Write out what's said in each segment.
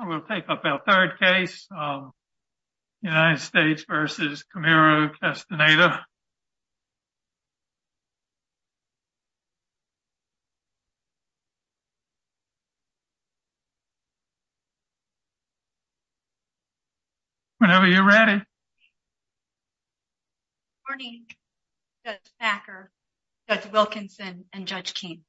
We'll take up our third case, United States v. Camero-Castaneda. Whenever you're ready. Good morning Judge Packer, Judge Wilkinson, and Judge Keene.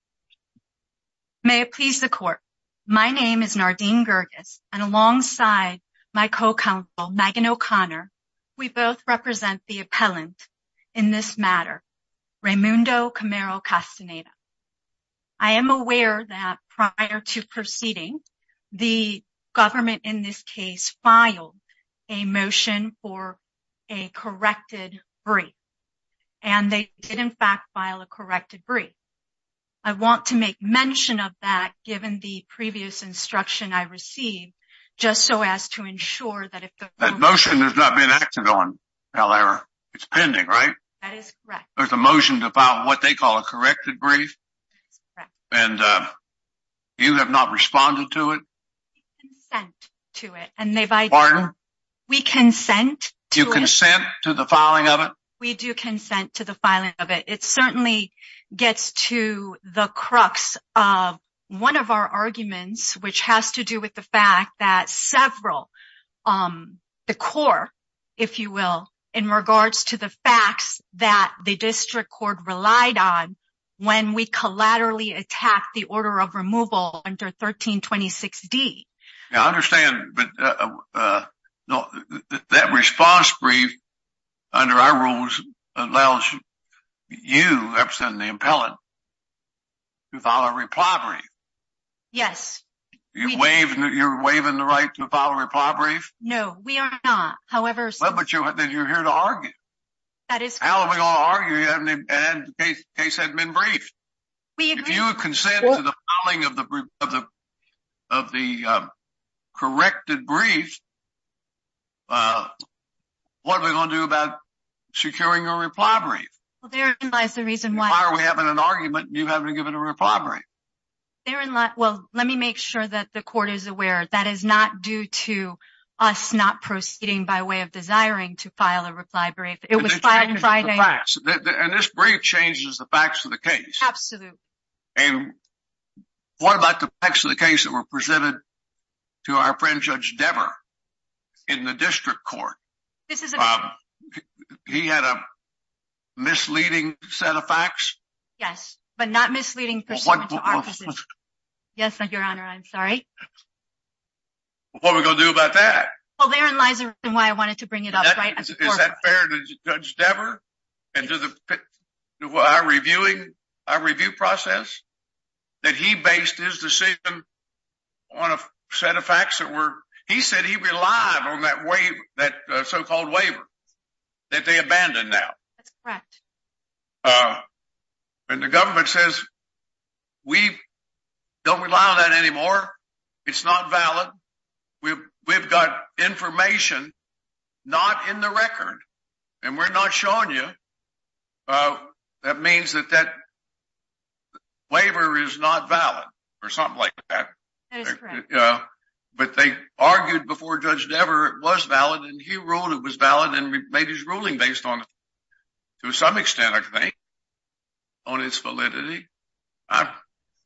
May it please the court, my name is Nardine Gergis and alongside my co-counsel Megan O'Connor, we both represent the appellant in this matter, Reymundo Camero-Castaneda. I am aware that prior to proceeding, the government in this case filed a motion for a corrected brief. And they did in fact file a corrected brief. I want to make mention of that given the previous instruction I received, just so as to ensure that if the... That motion has not been acted on, Valera. It's pending, right? That is correct. There's a motion to file what they call a corrected brief? That is correct. And you have not responded to it? We consent to it. Pardon? We consent to it. You consent to the filing of it? We do consent to the filing of it. It certainly gets to the crux of one of our arguments, which has to do with the fact that several... The court, if you will, in regards to the facts that the district court relied on when we collaterally attacked the order of removal under 1326D. I understand, but that response brief, under our rules, allows you, representing the impellant, to file a reply brief. Yes. You're waiving the right to file a reply brief? No, we are not. However... Well, but you're here to argue. That is correct. How are we going to argue if the case hasn't been briefed? We agree... If you consent to the filing of the corrected brief, what are we going to do about securing a reply brief? Well, therein lies the reason why... Why are we having an argument and you haven't given a reply brief? Therein lies... Well, let me make sure that the court is aware that is not due to us not proceeding by way of desiring to file a reply brief. It was filed on Friday. And this brief changes the facts of the case? Absolutely. And what about the facts of the case that were presented to our friend Judge Dever in the district court? This is a... He had a misleading set of facts? Yes, but not misleading... Well, what... Yes, Your Honor, I'm sorry. What are we going to do about that? Well, therein lies the reason why I wanted to bring it up, right? Is that fair to Judge Dever? And to the... To our reviewing... Our review process? That he based his decision on a set of facts that were... He said he relied on that waiver... That so-called waiver that they abandoned now. That's correct. And the government says, we don't rely on that anymore. It's not valid. We've got information not in the record. And we're not showing you. That means that that waiver is not valid. Or something like that. That is correct. But they argued before Judge Dever it was valid. And he ruled it was valid and made his ruling based on it. To some extent, I think. On its validity. I'm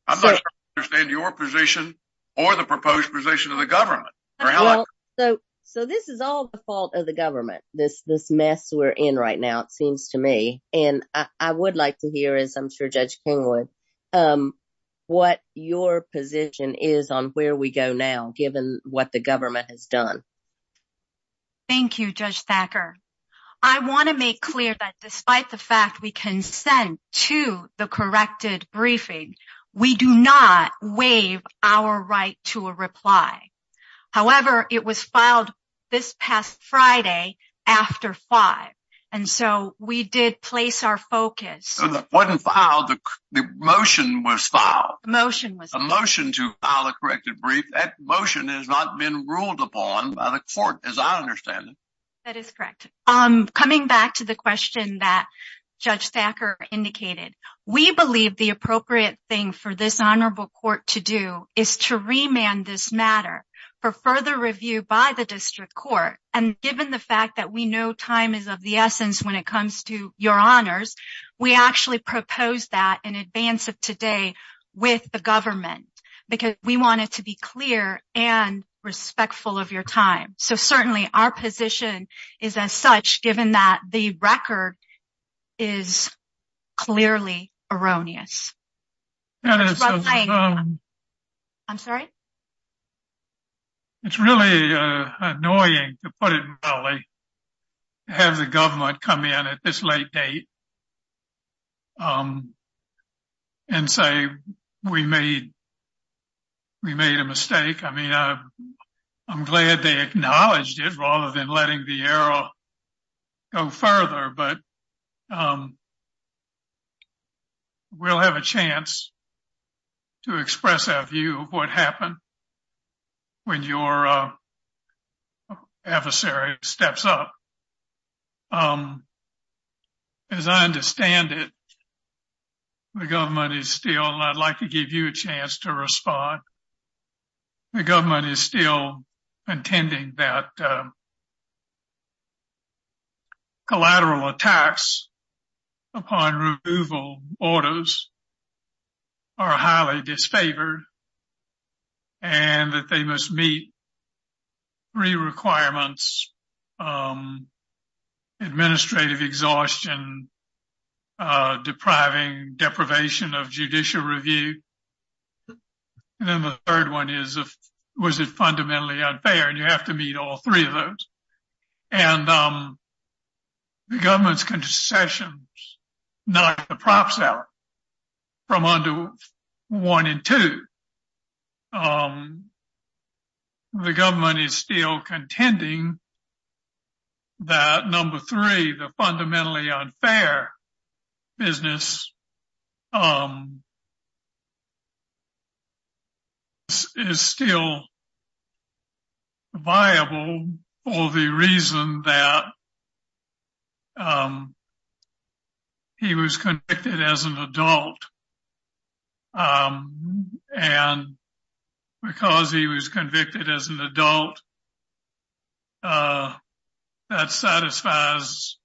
not sure I understand your position. Or the proposed position of the government. So this is all the fault of the government. This mess we're in right now, it seems to me. And I would like to hear, as I'm sure Judge King would. What your position is on where we go now. Given what the government has done. Thank you, Judge Thacker. I want to make clear that despite the fact we can send to the corrected briefing. We do not waive our right to a reply. However, it was filed this past Friday after five. And so we did place our focus. The motion was filed. A motion to file a corrected brief. That motion has not been ruled upon by the court, as I understand it. That is correct. Coming back to the question that Judge Thacker indicated. We believe the appropriate thing for this honorable court to do. Is to remand this matter. For further review by the district court. And given the fact that we know time is of the essence when it comes to your honors. We actually proposed that in advance of today. With the government. Because we want it to be clear. And respectful of your time. So certainly our position is as such, given that the record. Is clearly erroneous. I'm sorry. It's really annoying to put it. Have the government come in at this late date. And say we made. We made a mistake. I mean, I'm glad they acknowledged it. Rather than letting the arrow. Go further, but. We'll have a chance. To express our view of what happened. When your. Adversary steps up. As I understand it. The government is still not like to give you a chance to respond. The government is still. Intending that. Collateral attacks. Upon removal orders. Are highly disfavored. And that they must meet. Three requirements. Administrative exhaustion. Depriving deprivation of judicial review. And then the third one is. Was it fundamentally unfair? And you have to meet all three of those. And. The government's concessions. Not the prop seller. From under. One and two. The government is still contending. That number three, the fundamentally unfair. Business. Is still. Viable. Or the reason that. He was convicted as an adult. And. Because he was convicted as an adult. And because he was convicted as an adult. That satisfies.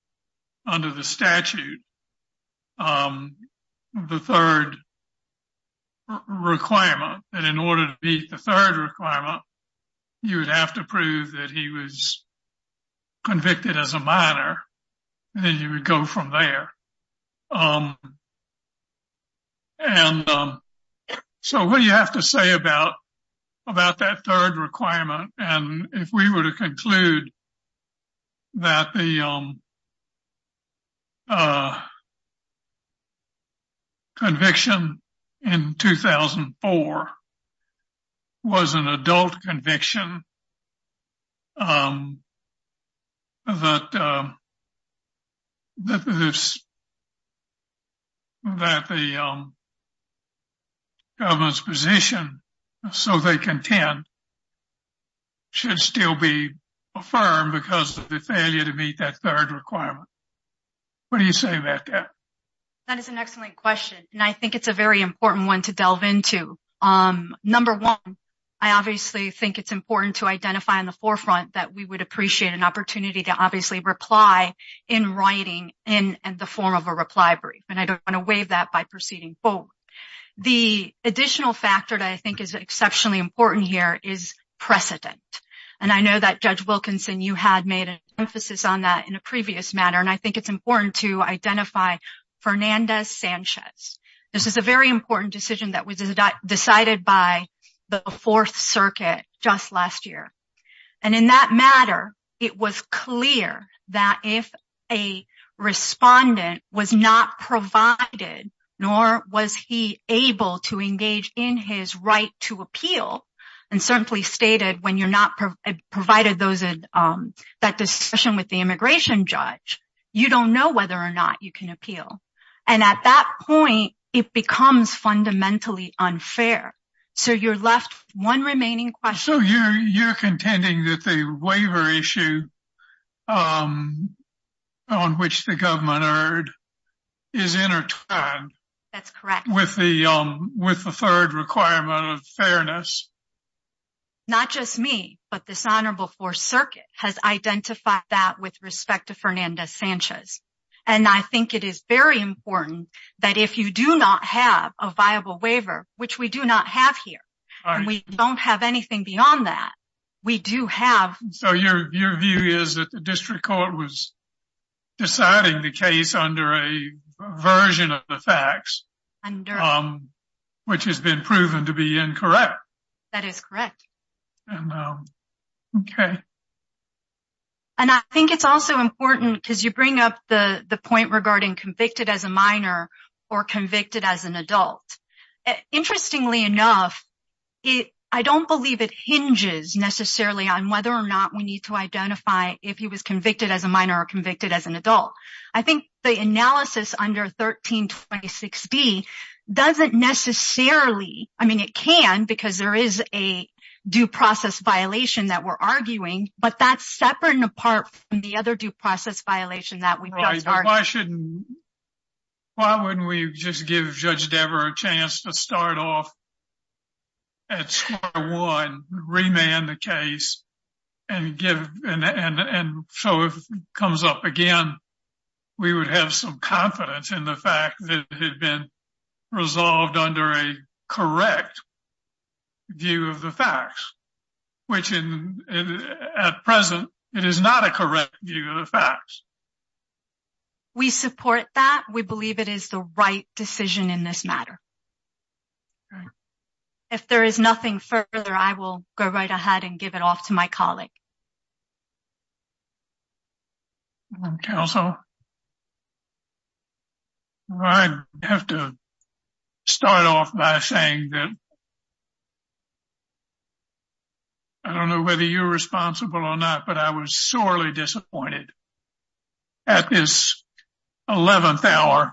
Under the statute. The third. Requirement that in order to beat the third requirement. You would have to prove that he was. Convicted as a minor. And then you would go from there. And. So what do you have to say about. About that third requirement. And if we were to conclude. That the. Conviction. In 2004. Was an adult conviction. That. That. That. That the. Government's position. So they can. Should still be. Affirmed because of the failure to meet that third requirement. What do you say about that? That is an excellent question. And I think it's a very important one to delve into. Number one. I obviously think it's important to identify on the forefront. That we would appreciate an opportunity to obviously reply. In writing in the form of a reply brief. And I don't want to waive that by proceeding. The additional factor that I think is exceptionally important here. Is precedent. And I know that judge Wilkinson, you had made. Emphasis on that in a previous matter. And I think it's important to identify. Fernandez Sanchez. This is a very important decision that was decided by. The fourth circuit. Just last year. And in that matter. It was clear that if. Respondent was not provided. Nor was he able to engage in his right to appeal. And certainly stated when you're not. Provided those. That discussion with the immigration judge. You don't know whether or not you can appeal. And at that point, it becomes fundamentally unfair. So you're left 1 remaining question. You're contending that the waiver issue. On which the government. Is in. That's correct. With the. With the 3rd requirement of fairness. Not just me, but dishonorable for circuit. Has identified that with respect to Fernandez Sanchez. And I think it is very important. That if you do not have a viable waiver, which we do not have here. We don't have anything beyond that. We do have. So your view is that the district court was. Deciding the case under a version of the facts. Which has been proven to be incorrect. That is correct. Okay. And I think it's also important because you bring up the point. Regarding convicted as a minor. Or convicted as an adult. Interestingly enough. I don't believe it hinges necessarily on whether or not we need to. Identify if he was convicted as a minor or convicted as an adult. I think the analysis under 1326. Doesn't necessarily. I mean, it can, because there is a. There is a. Due process violation that we're arguing, but that's separate and apart. The other due process violation that we. Why shouldn't. Why wouldn't we just give judge Debra a chance to start off? Remand the case. And give and so it comes up again. We would have some confidence in the fact that had been. Resolved under a correct. View of the facts, which. At present, it is not a correct view of the facts. We support that. We believe it is the right decision in this matter. Okay. If there is nothing further, I will go right ahead and give it off to my colleague. Council. I have to. Start off by saying that. I don't know whether you're responsible or not, but I was sorely disappointed. At this 11th hour.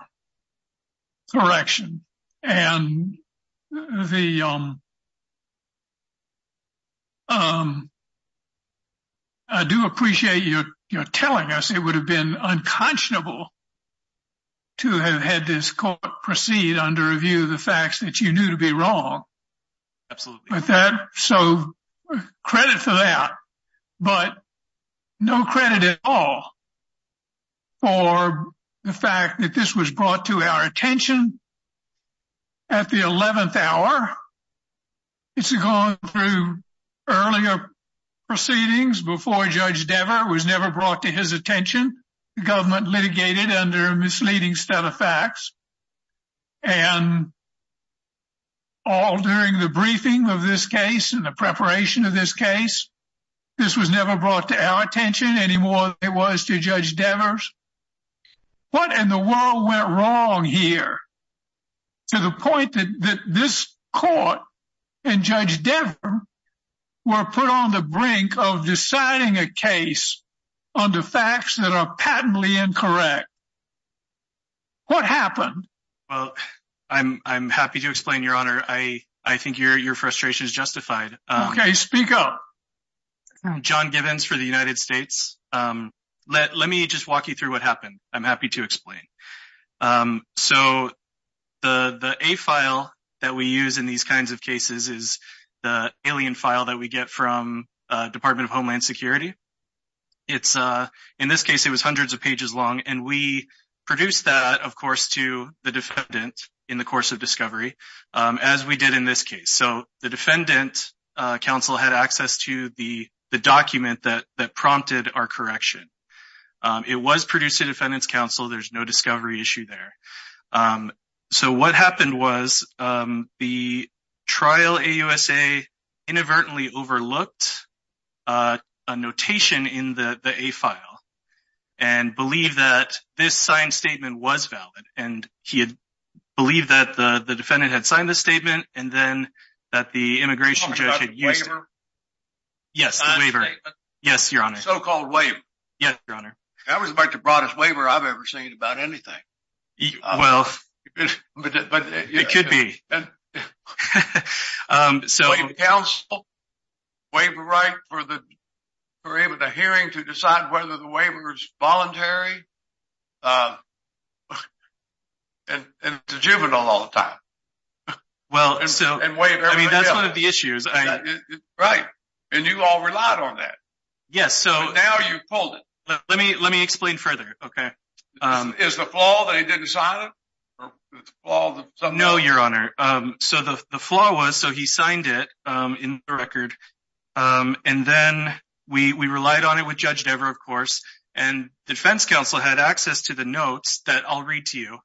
Correction and the. I'm. I do appreciate you. You're telling us it would have been unconscionable. To have had this court proceed under a view of the facts that you knew to be wrong. Absolutely. So credit for that. But no credit at all. For the fact that this was brought to our attention. At the 11th hour. It's gone through earlier. Proceedings before judge Dever was never brought to his attention. The government litigated under a misleading set of facts. And. All during the briefing of this case and the preparation of this case. This was never brought to our attention anymore. It was to judge Devers. What in the world went wrong here? To the point that this court. And judge. We're put on the brink of deciding a case. On the facts that are patently incorrect. What happened? I'm, I'm happy to explain your honor. I, I think your, your frustration is justified. Okay. Speak up. John Gibbons for the United States. Let, let me just walk you through what happened. I'm happy to explain. So. The, the a file that we use in these kinds of cases is. The alien file that we get from department of Homeland Security. It's in this case, it was hundreds of pages long and we. Produce that, of course, to the defendant. In the course of discovery, as we did in this case, so the defendant. Council had access to the, the document that, that prompted our correction. It was produced to defendants council. There's no discovery issue there. So what happened was the. Trial a USA. Inadvertently overlooked. A notation in the a file. And believe that this sign statement was valid and he had. Believe that the defendant had signed the statement and then. That the immigration judge had used. Yes, the waiver. Yes, your honor. So-called wave. Yes, your honor. I was about to brought his waiver. I've ever seen about anything. Well, but it could be. So, wait, right for the. We're able to hearing to decide whether the waiver is voluntary. And it's a juvenile all the time. Well, so, and wait, I mean, that's 1 of the issues, right? And you all relied on that. Yes. So now you pulled it. Let me, let me explain further. Okay. Is the flaw that he didn't sign it. No, your honor. So the flaw was, so he signed it in the record. And then we, we relied on it with judge never, of course. And defense counsel had access to the notes that I'll read to you.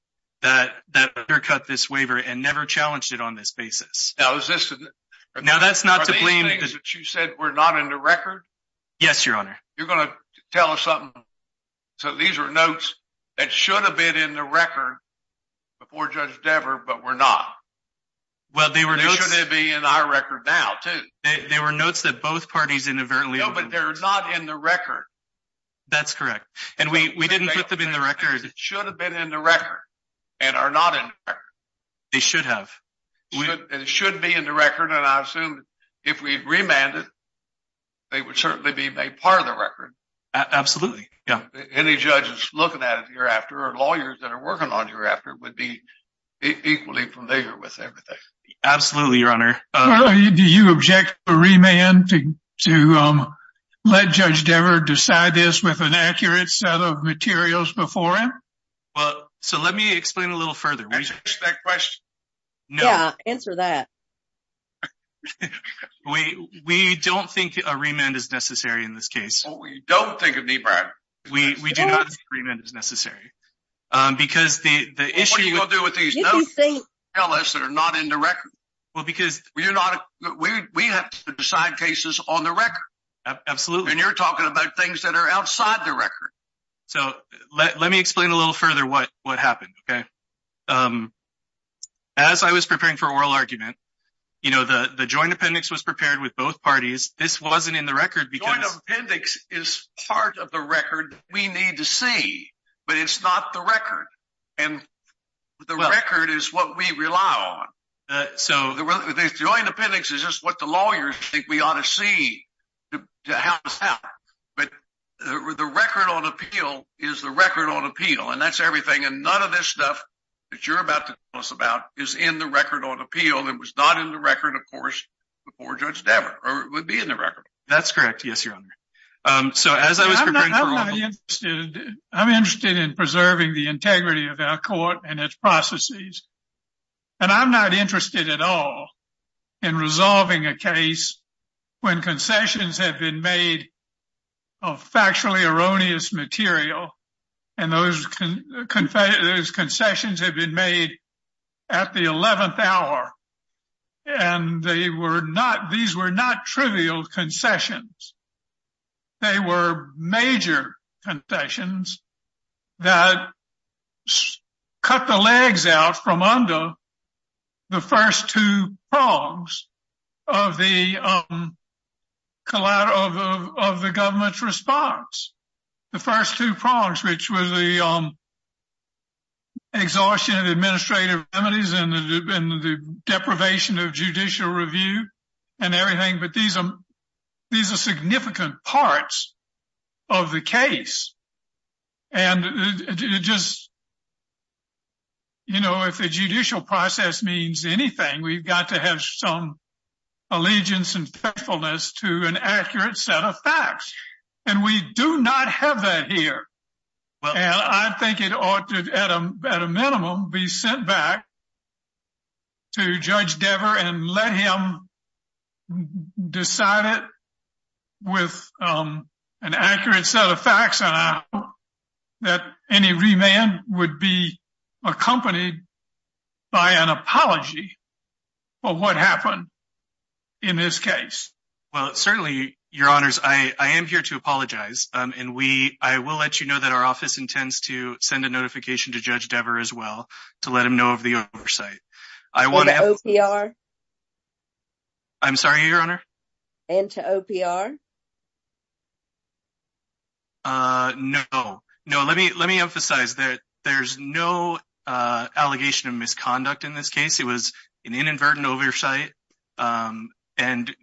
That that cut this waiver and never challenged it on this basis. Now, is this now that's not to blame that you said we're not in the record. Yes, your honor. You're going to tell us something. So, these are notes that should have been in the record. Before judge never, but we're not. Well, they were going to be in our record now too. They were notes that both parties inadvertently, but they're not in the record. That's correct. And we, we didn't put them in the record. It should have been in the record and are not in. They should have. It should be in the record. And I assume if we remanded. They would certainly be a part of the record. Absolutely. Yeah. Any judges looking at it here after or lawyers that are working on here after would be equally familiar with everything. Absolutely. Your honor. Do you object a remand to let judge ever decide this with an accurate set of materials before him? Well, so let me explain a little further. Question. Yeah, answer that. We, we don't think a remand is necessary in this case. We don't think of me, Brad. Remand is necessary. Because the issue you will do with these. Tell us that are not in the record. Well, because we're not, we have to decide cases on the record. Absolutely. And you're talking about things that are outside the record. So, let me explain a little further what what happened. Okay. As I was preparing for oral argument, you know, the joint appendix was prepared with both parties. This wasn't in the record because appendix is part of the record. We need to see, but it's not the record. And the record is what we rely on. So, the joint appendix is just what the lawyers think we ought to see. But the record on appeal is the record on appeal and that's everything. And none of this stuff that you're about to tell us about is in the record on appeal. Well, it was not in the record, of course, before Judge Dameron, or it would be in the record. That's correct. Yes, Your Honor. So, as I was preparing for oral argument. I'm interested in preserving the integrity of our court and its processes. And I'm not interested at all in resolving a case when concessions have been made of factually erroneous material. And those concessions have been made at the 11th hour. And these were not trivial concessions. They were major concessions that cut the legs out from under the first two prongs of the government's response. The first two prongs, which were the exhaustion of administrative remedies and the deprivation of judicial review and everything. But these are significant parts of the case. And it just, you know, if a judicial process means anything, we've got to have some allegiance and faithfulness to an accurate set of facts. And we do not have that here. And I think it ought to, at a minimum, be sent back to Judge Dever and let him decide it with an accurate set of facts. And I hope that any remand would be accompanied by an apology for what happened in this case. Well, certainly, Your Honors, I am here to apologize. And I will let you know that our office intends to send a notification to Judge Dever as well to let him know of the oversight. And to OPR? I'm sorry, Your Honor? And to OPR? No. No, let me emphasize that there's no allegation of misconduct in this case. It was an inadvertent oversight. And,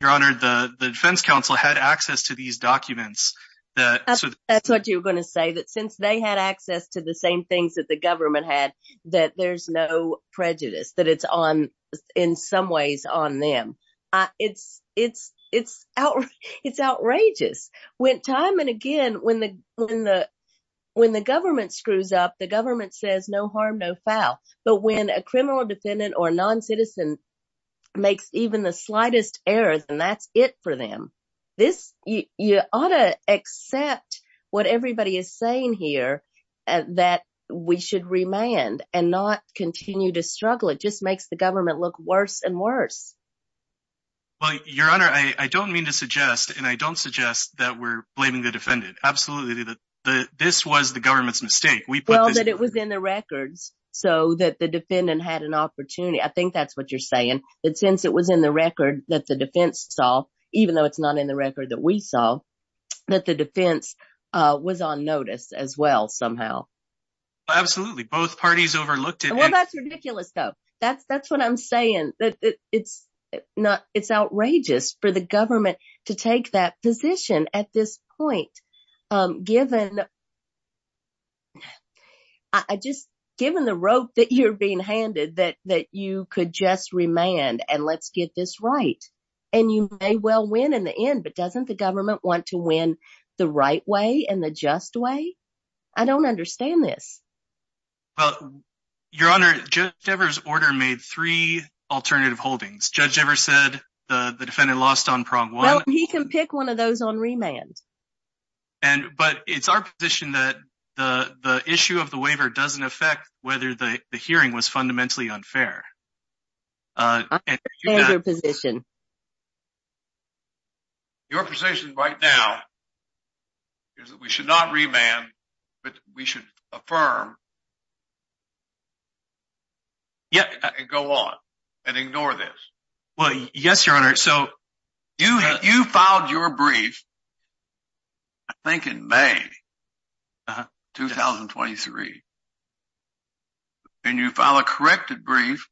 Your Honor, the defense counsel had access to these documents. That's what you're going to say, that since they had access to the same things that the government had, that there's no prejudice, that it's in some ways on them. It's outrageous. When time and again, when the government screws up, the government says no harm, no foul. But when a criminal defendant or a noncitizen makes even the slightest error, then that's it for them. You ought to accept what everybody is saying here, that we should remand and not continue to struggle. It just makes the government look worse and worse. Well, Your Honor, I don't mean to suggest, and I don't suggest that we're blaming the defendant. Absolutely, this was the government's mistake. Well, that it was in the records so that the defendant had an opportunity. I think that's what you're saying, that since it was in the record that the defense saw, even though it's not in the record that we saw, that the defense was on notice as well somehow. Absolutely. Both parties overlooked it. Well, that's ridiculous, though. That's what I'm saying. It's outrageous for the government to take that position at this point, given the rope that you're being handed that you could just remand and let's get this right. And you may well win in the end, but doesn't the government want to win the right way and the just way? I don't understand this. Well, Your Honor, Judge Evers' order made three alternative holdings. Judge Evers said the defendant lost on prong one. Well, he can pick one of those on remand. But it's our position that the issue of the waiver doesn't affect whether the hearing was fundamentally unfair. I understand your position. Your position right now is that we should not remand, but we should affirm and go on and ignore this. Well, yes, Your Honor. You filed your brief, I think in May 2023, and you filed a corrected brief,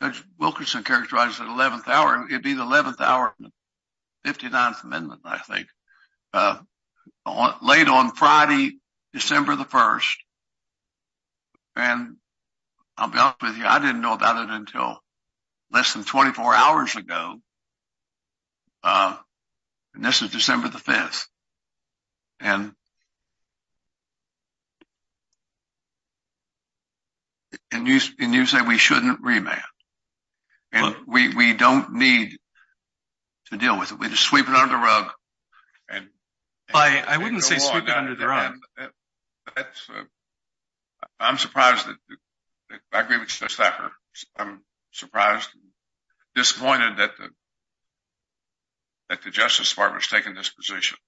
as Wilkerson characterized it, at 11th hour. It would be the 11th hour of the 59th amendment, I think, late on Friday, December the 1st. And I'll be honest with you, I didn't know about it until less than 24 hours ago. And this is December the 5th. And you say we shouldn't remand. We don't need to deal with it. We just sweep it under the rug. I'm surprised. I agree with Justice Thacker. I'm surprised and disappointed that the Justice Department has taken this position.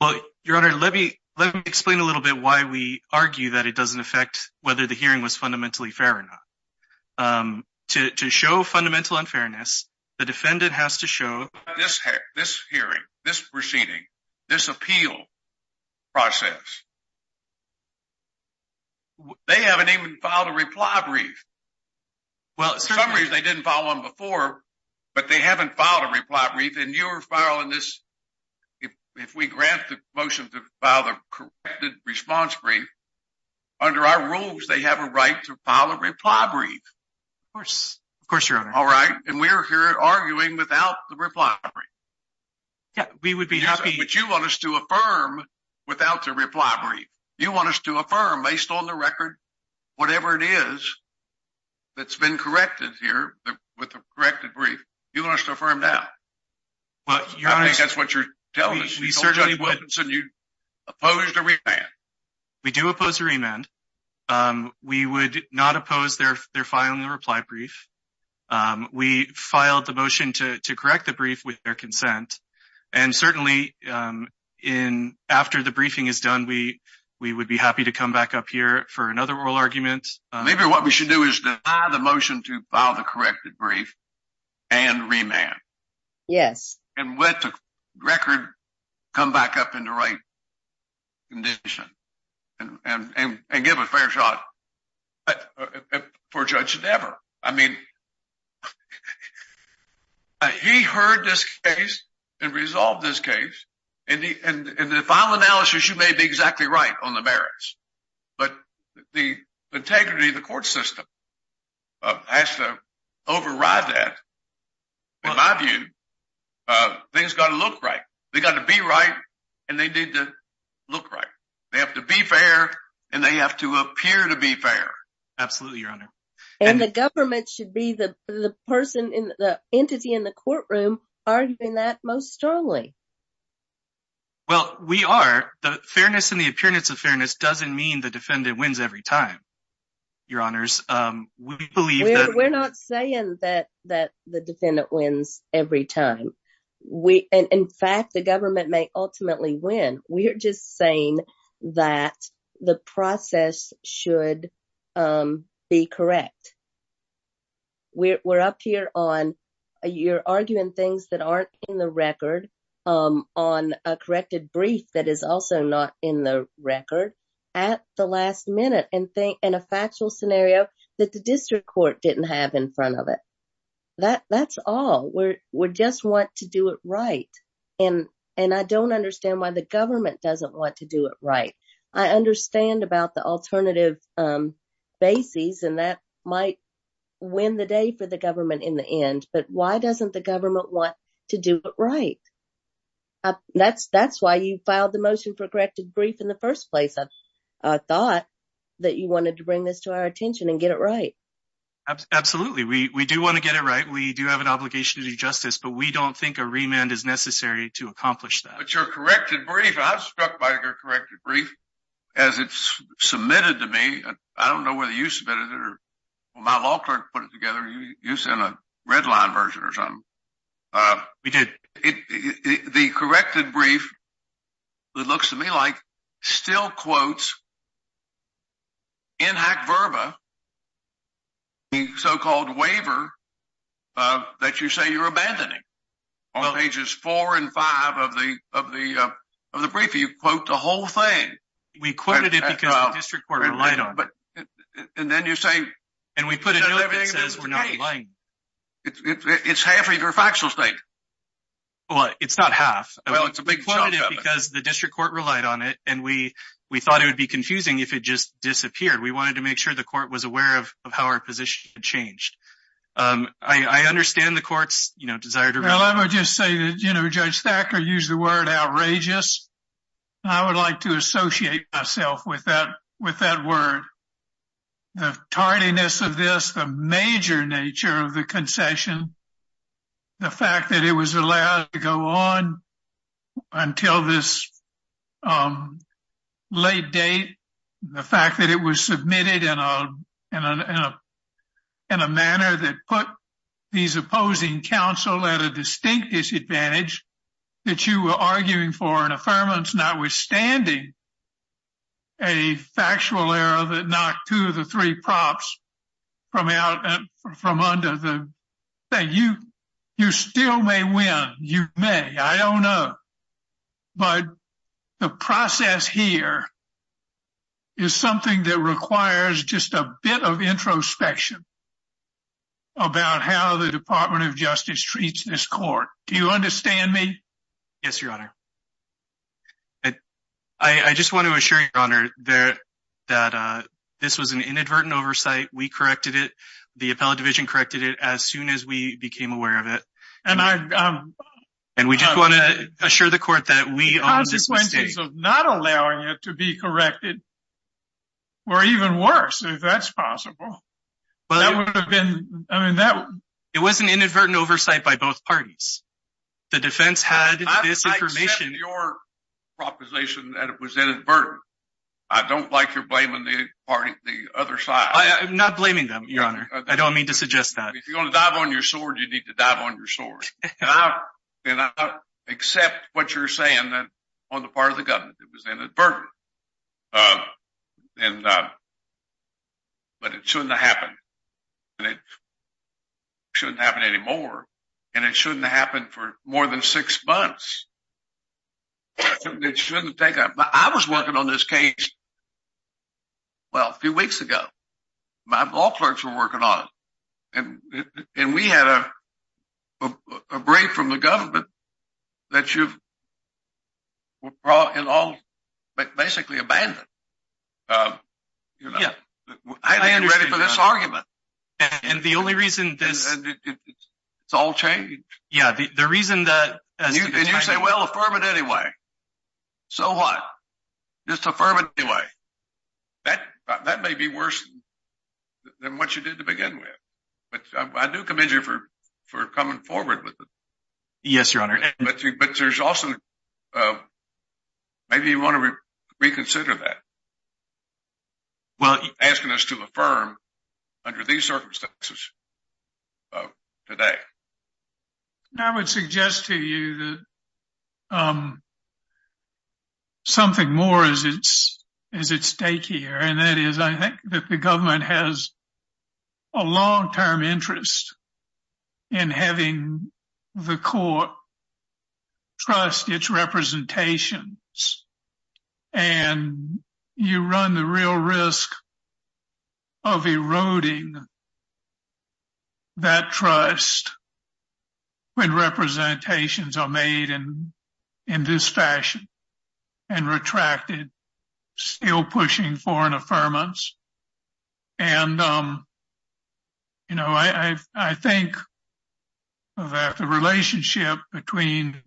Well, Your Honor, let me explain a little bit why we argue that it doesn't affect whether the hearing was fundamentally fair or not. To show fundamental unfairness, the defendant has to show... This hearing, this proceeding, this appeal process, they haven't even filed a reply brief. For some reason, they didn't file one before, but they haven't filed a reply brief, and you're filing this. If we grant the motion to file the corrected response brief, under our rules, they have a right to file a reply brief. Of course, Your Honor. All right, and we're here arguing without the reply brief. Yeah, we would be happy... But you want us to affirm without the reply brief. You want us to affirm, based on the record, whatever it is that's been corrected here with the corrected brief. You want us to affirm that. Well, Your Honor... I think that's what you're telling us. We certainly would... You told Judge Woodinson you opposed a remand. We do oppose a remand. We would not oppose their filing the reply brief. We filed the motion to correct the brief with their consent. And certainly, after the briefing is done, we would be happy to come back up here for another oral argument. Maybe what we should do is deny the motion to file the corrected brief and remand. Yes. And let the record come back up in the right condition and give a fair shot for Judge Devere. I mean, he heard this case and resolved this case. In the final analysis, you may be exactly right on the merits, but the integrity of the court system has to override that. In my view, things have got to look right. They've got to be right, and they need to look right. They have to be fair, and they have to appear to be fair. Absolutely, Your Honor. And the government should be the entity in the courtroom arguing that most strongly. Well, we are. The fairness and the appearance of fairness doesn't mean the defendant wins every time, Your Honors. We're not saying that the defendant wins every time. In fact, the government may ultimately win. We're just saying that the process should be correct. We're up here on you're arguing things that aren't in the record on a corrected brief that is also not in the record at the last minute. And a factual scenario that the district court didn't have in front of it. That's all. We just want to do it right. And I don't understand why the government doesn't want to do it right. I understand about the alternative bases, and that might win the day for the government in the end. But why doesn't the government want to do it right? That's why you filed the motion for corrected brief in the first place. I thought that you wanted to bring this to our attention and get it right. Absolutely. We do want to get it right. We do have an obligation to do justice, but we don't think a remand is necessary to accomplish that. But your corrected brief, I was struck by your corrected brief as it's submitted to me. I don't know whether you submitted it or my law clerk put it together. You sent a red line version or something. We did. The corrected brief, it looks to me like, still quotes, in hack verba, the so-called waiver that you say you're abandoning. On pages four and five of the brief, you quote the whole thing. We quoted it because the district court relied on it. And then you're saying— And we put a note that says we're not relying. It's half of your factual state. Well, it's not half. Well, it's a big chunk of it. We quoted it because the district court relied on it, and we thought it would be confusing if it just disappeared. We wanted to make sure the court was aware of how our position had changed. I understand the court's desire to— Well, I would just say that, you know, Judge Thacker used the word outrageous. I would like to associate myself with that word. The tardiness of this, the major nature of the concession, the fact that it was allowed to go on until this late date, the fact that it was submitted in a manner that put these opposing counsel at a distinct disadvantage, that you were arguing for an affirmance notwithstanding a factual error that knocked two of the three props from under the thing. You still may win. You may. I don't know. But the process here is something that requires just a bit of introspection about how the Department of Justice treats this court. Do you understand me? Yes, Your Honor. I just want to assure Your Honor that this was an inadvertent oversight. We corrected it. The appellate division corrected it as soon as we became aware of it. And I— And we just want to assure the court that we— The consequences of not allowing it to be corrected were even worse, if that's possible. That would have been—I mean, that— It was an inadvertent oversight by both parties. The defense had this information— I accept your proposition that it was inadvertent. I don't like your blaming the other side. I am not blaming them, Your Honor. I don't mean to suggest that. If you're going to dive on your sword, you need to dive on your sword. And I accept what you're saying that on the part of the government it was inadvertent. And— But it shouldn't have happened. And it shouldn't happen anymore. And it shouldn't happen for more than six months. It shouldn't take— I was working on this case, well, a few weeks ago. My law clerks were working on it. And we had a brief from the government that you've brought in all—basically abandoned. Yeah. I didn't get ready for this argument. And the only reason this— It's all changed. Yeah, the reason that— And you say, well, affirm it anyway. So what? Just affirm it anyway. That may be worse than what you did to begin with. But I do commend you for coming forward with it. Yes, Your Honor. But there's also— Maybe you want to reconsider that. Asking us to affirm under these circumstances today. I would suggest to you that something more is at stake here. And that is, I think that the government has a long-term interest in having the court trust its representations. And you run the real risk of eroding that trust when representations are made in this fashion and retracted, still pushing for an affirmance. And, you know, I think that the relationship between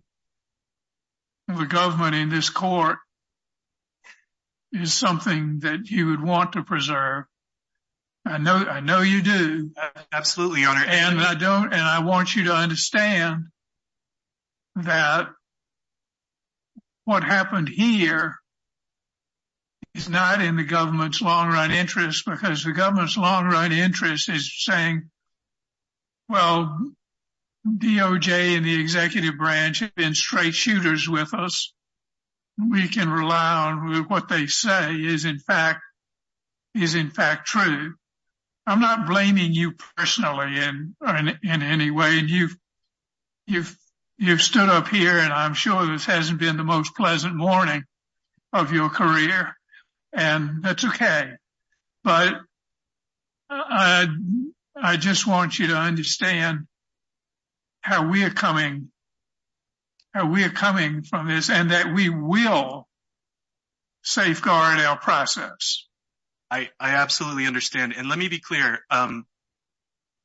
the government and this court is something that you would want to preserve. I know you do. Absolutely, Your Honor. And I want you to understand that what happened here is not in the government's long-run interest. Because the government's long-run interest is saying, well, DOJ and the executive branch have been straight shooters with us. We can rely on what they say is, in fact, true. I'm not blaming you personally in any way. You've stood up here, and I'm sure this hasn't been the most pleasant morning of your career. And that's okay. But I just want you to understand how we are coming from this and that we will safeguard our process. I absolutely understand. And let me be clear.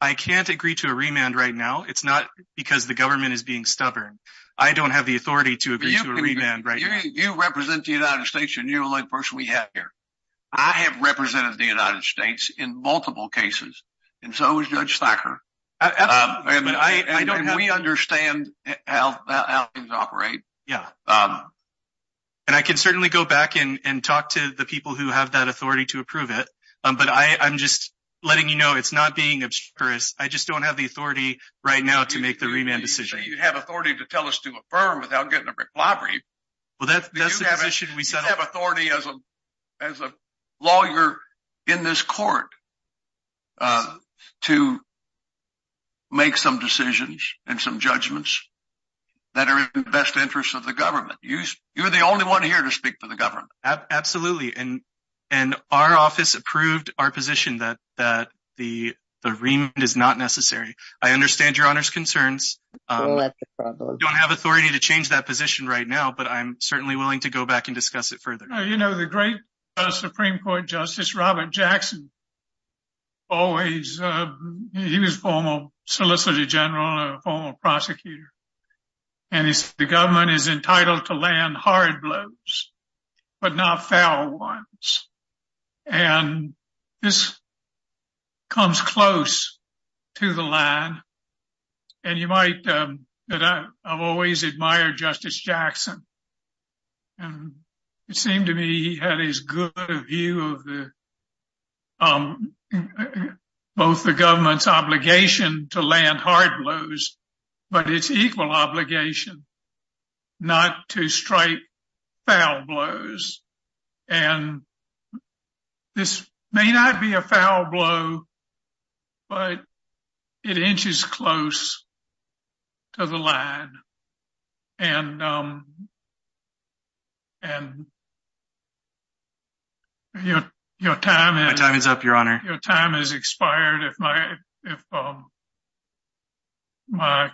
I can't agree to a remand right now. It's not because the government is being stubborn. I don't have the authority to agree to a remand right now. You represent the United States. You're the only person we have here. I have represented the United States in multiple cases. And so has Judge Thacker. Absolutely. And we understand how things operate. Yeah. And I can certainly go back and talk to the people who have that authority to approve it. But I'm just letting you know it's not being obscure. I just don't have the authority right now to make the remand decision. You have authority to tell us to affirm without getting a reclavery. Well, that's the position we set up. You have authority as a lawyer in this court to make some decisions and some judgments that are in the best interest of the government. You're the only one here to speak for the government. Absolutely. And our office approved our position that the remand is not necessary. I understand Your Honor's concerns. Well, that's a problem. I don't have authority to change that position right now, but I'm certainly willing to go back and discuss it further. You know, the great Supreme Court Justice Robert Jackson, he was a former solicitor general and a former prosecutor. And he said the government is entitled to land hard blows, but not foul ones. And this comes close to the line. And you might know that I've always admired Justice Jackson. And it seemed to me he had his good view of both the government's obligation to land hard blows, but its equal obligation not to strike foul blows. And this may not be a foul blow, but it inches close to the line. And your time is up, Your Honor. Your time has expired. If my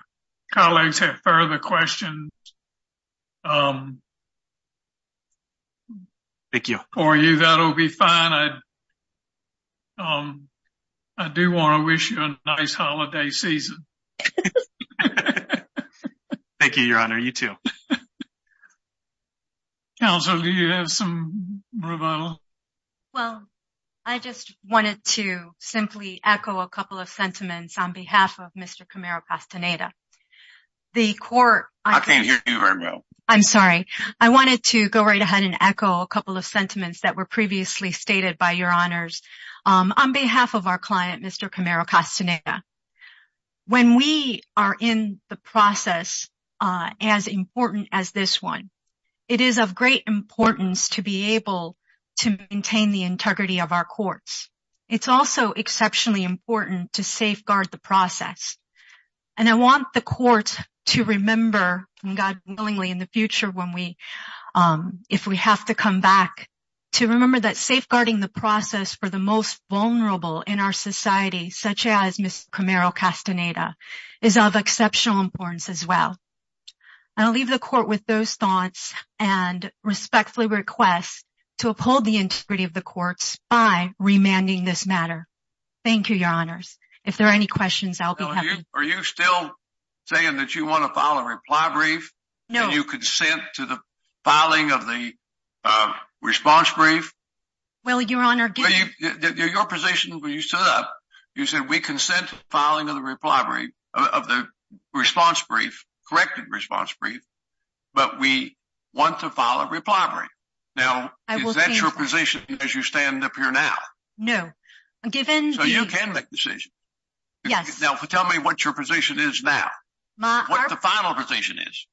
colleagues have further questions for you, that'll be fine. I do want to wish you a nice holiday season. Thank you, Your Honor. You too. Counsel, do you have some rebuttal? Well, I just wanted to simply echo a couple of sentiments on behalf of Mr. Camaro-Castaneda. I can't hear you very well. I'm sorry. I wanted to go right ahead and echo a couple of sentiments that were previously stated by Your Honors. On behalf of our client, Mr. Camaro-Castaneda, when we are in the process as important as this one, it is of great importance to be able to maintain the integrity of our courts. It's also exceptionally important to safeguard the process. And I want the court to remember, and God willing, in the future, if we have to come back, to remember that safeguarding the process for the most vulnerable in our society, such as Mr. Camaro-Castaneda, is of exceptional importance as well. I'll leave the court with those thoughts and respectfully request to uphold the integrity of the courts by remanding this matter. Thank you, Your Honors. If there are any questions, I'll be happy— Are you still saying that you want to file a reply brief? No. And you consent to the filing of the response brief? Well, Your Honor— Your position, when you stood up, you said, we consent to filing of the reply brief, of the response brief, corrected response brief, but we want to file a reply brief. Now, is that your position as you stand up here now? No. So you can make decisions? Yes. Now, tell me what your position is now. What the final position is.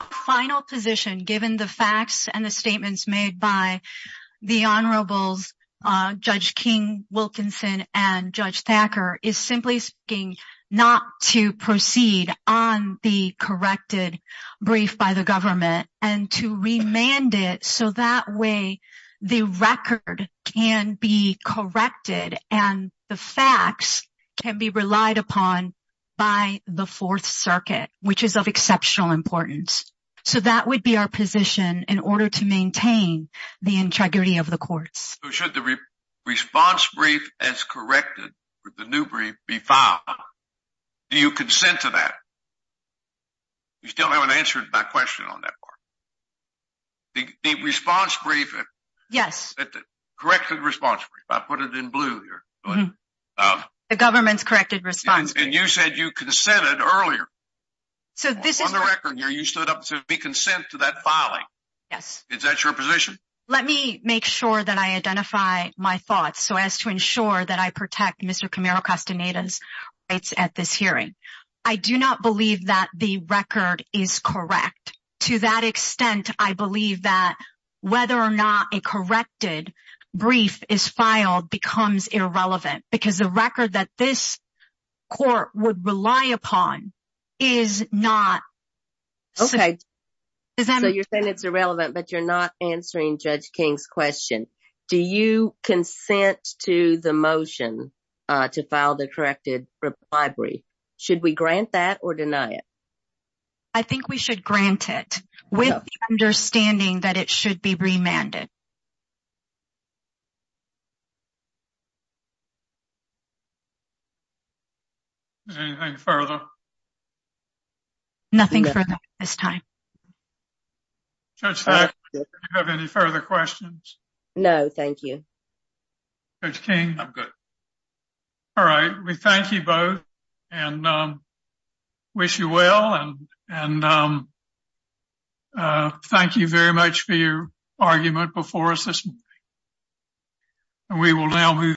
The final position, given the facts and the statements made by the Honorables, Judge King-Wilkinson and Judge Thacker, is simply speaking not to proceed on the corrected brief by the government, and to remand it so that way the record can be corrected and the facts can be relied upon by the Fourth Circuit, which is of exceptional importance. So that would be our position in order to maintain the integrity of the courts. So should the response brief as corrected, the new brief, be filed? Do you consent to that? You still haven't answered my question on that part. The response brief— Yes. The corrected response brief. I put it in blue here. The government's corrected response brief. And you said you consented earlier. So this is— On the record here, you stood up and said, we consent to that filing. Yes. Is that your position? Let me make sure that I identify my thoughts so as to ensure that I protect Mr. Camaro-Castaneda's rights at this hearing. I do not believe that the record is correct. To that extent, I believe that whether or not a corrected brief is filed becomes irrelevant because the record that this court would rely upon is not— Okay. So you're saying it's irrelevant, but you're not answering Judge King's question. Do you consent to the motion to file the corrected brief? Should we grant that or deny it? I think we should grant it with the understanding that it should be remanded. Anything further? Nothing further at this time. Judge Black, do you have any further questions? No, thank you. Judge King? I'm good. All right. We thank you both and wish you well. And thank you very much for your argument before us this morning. And we will now move—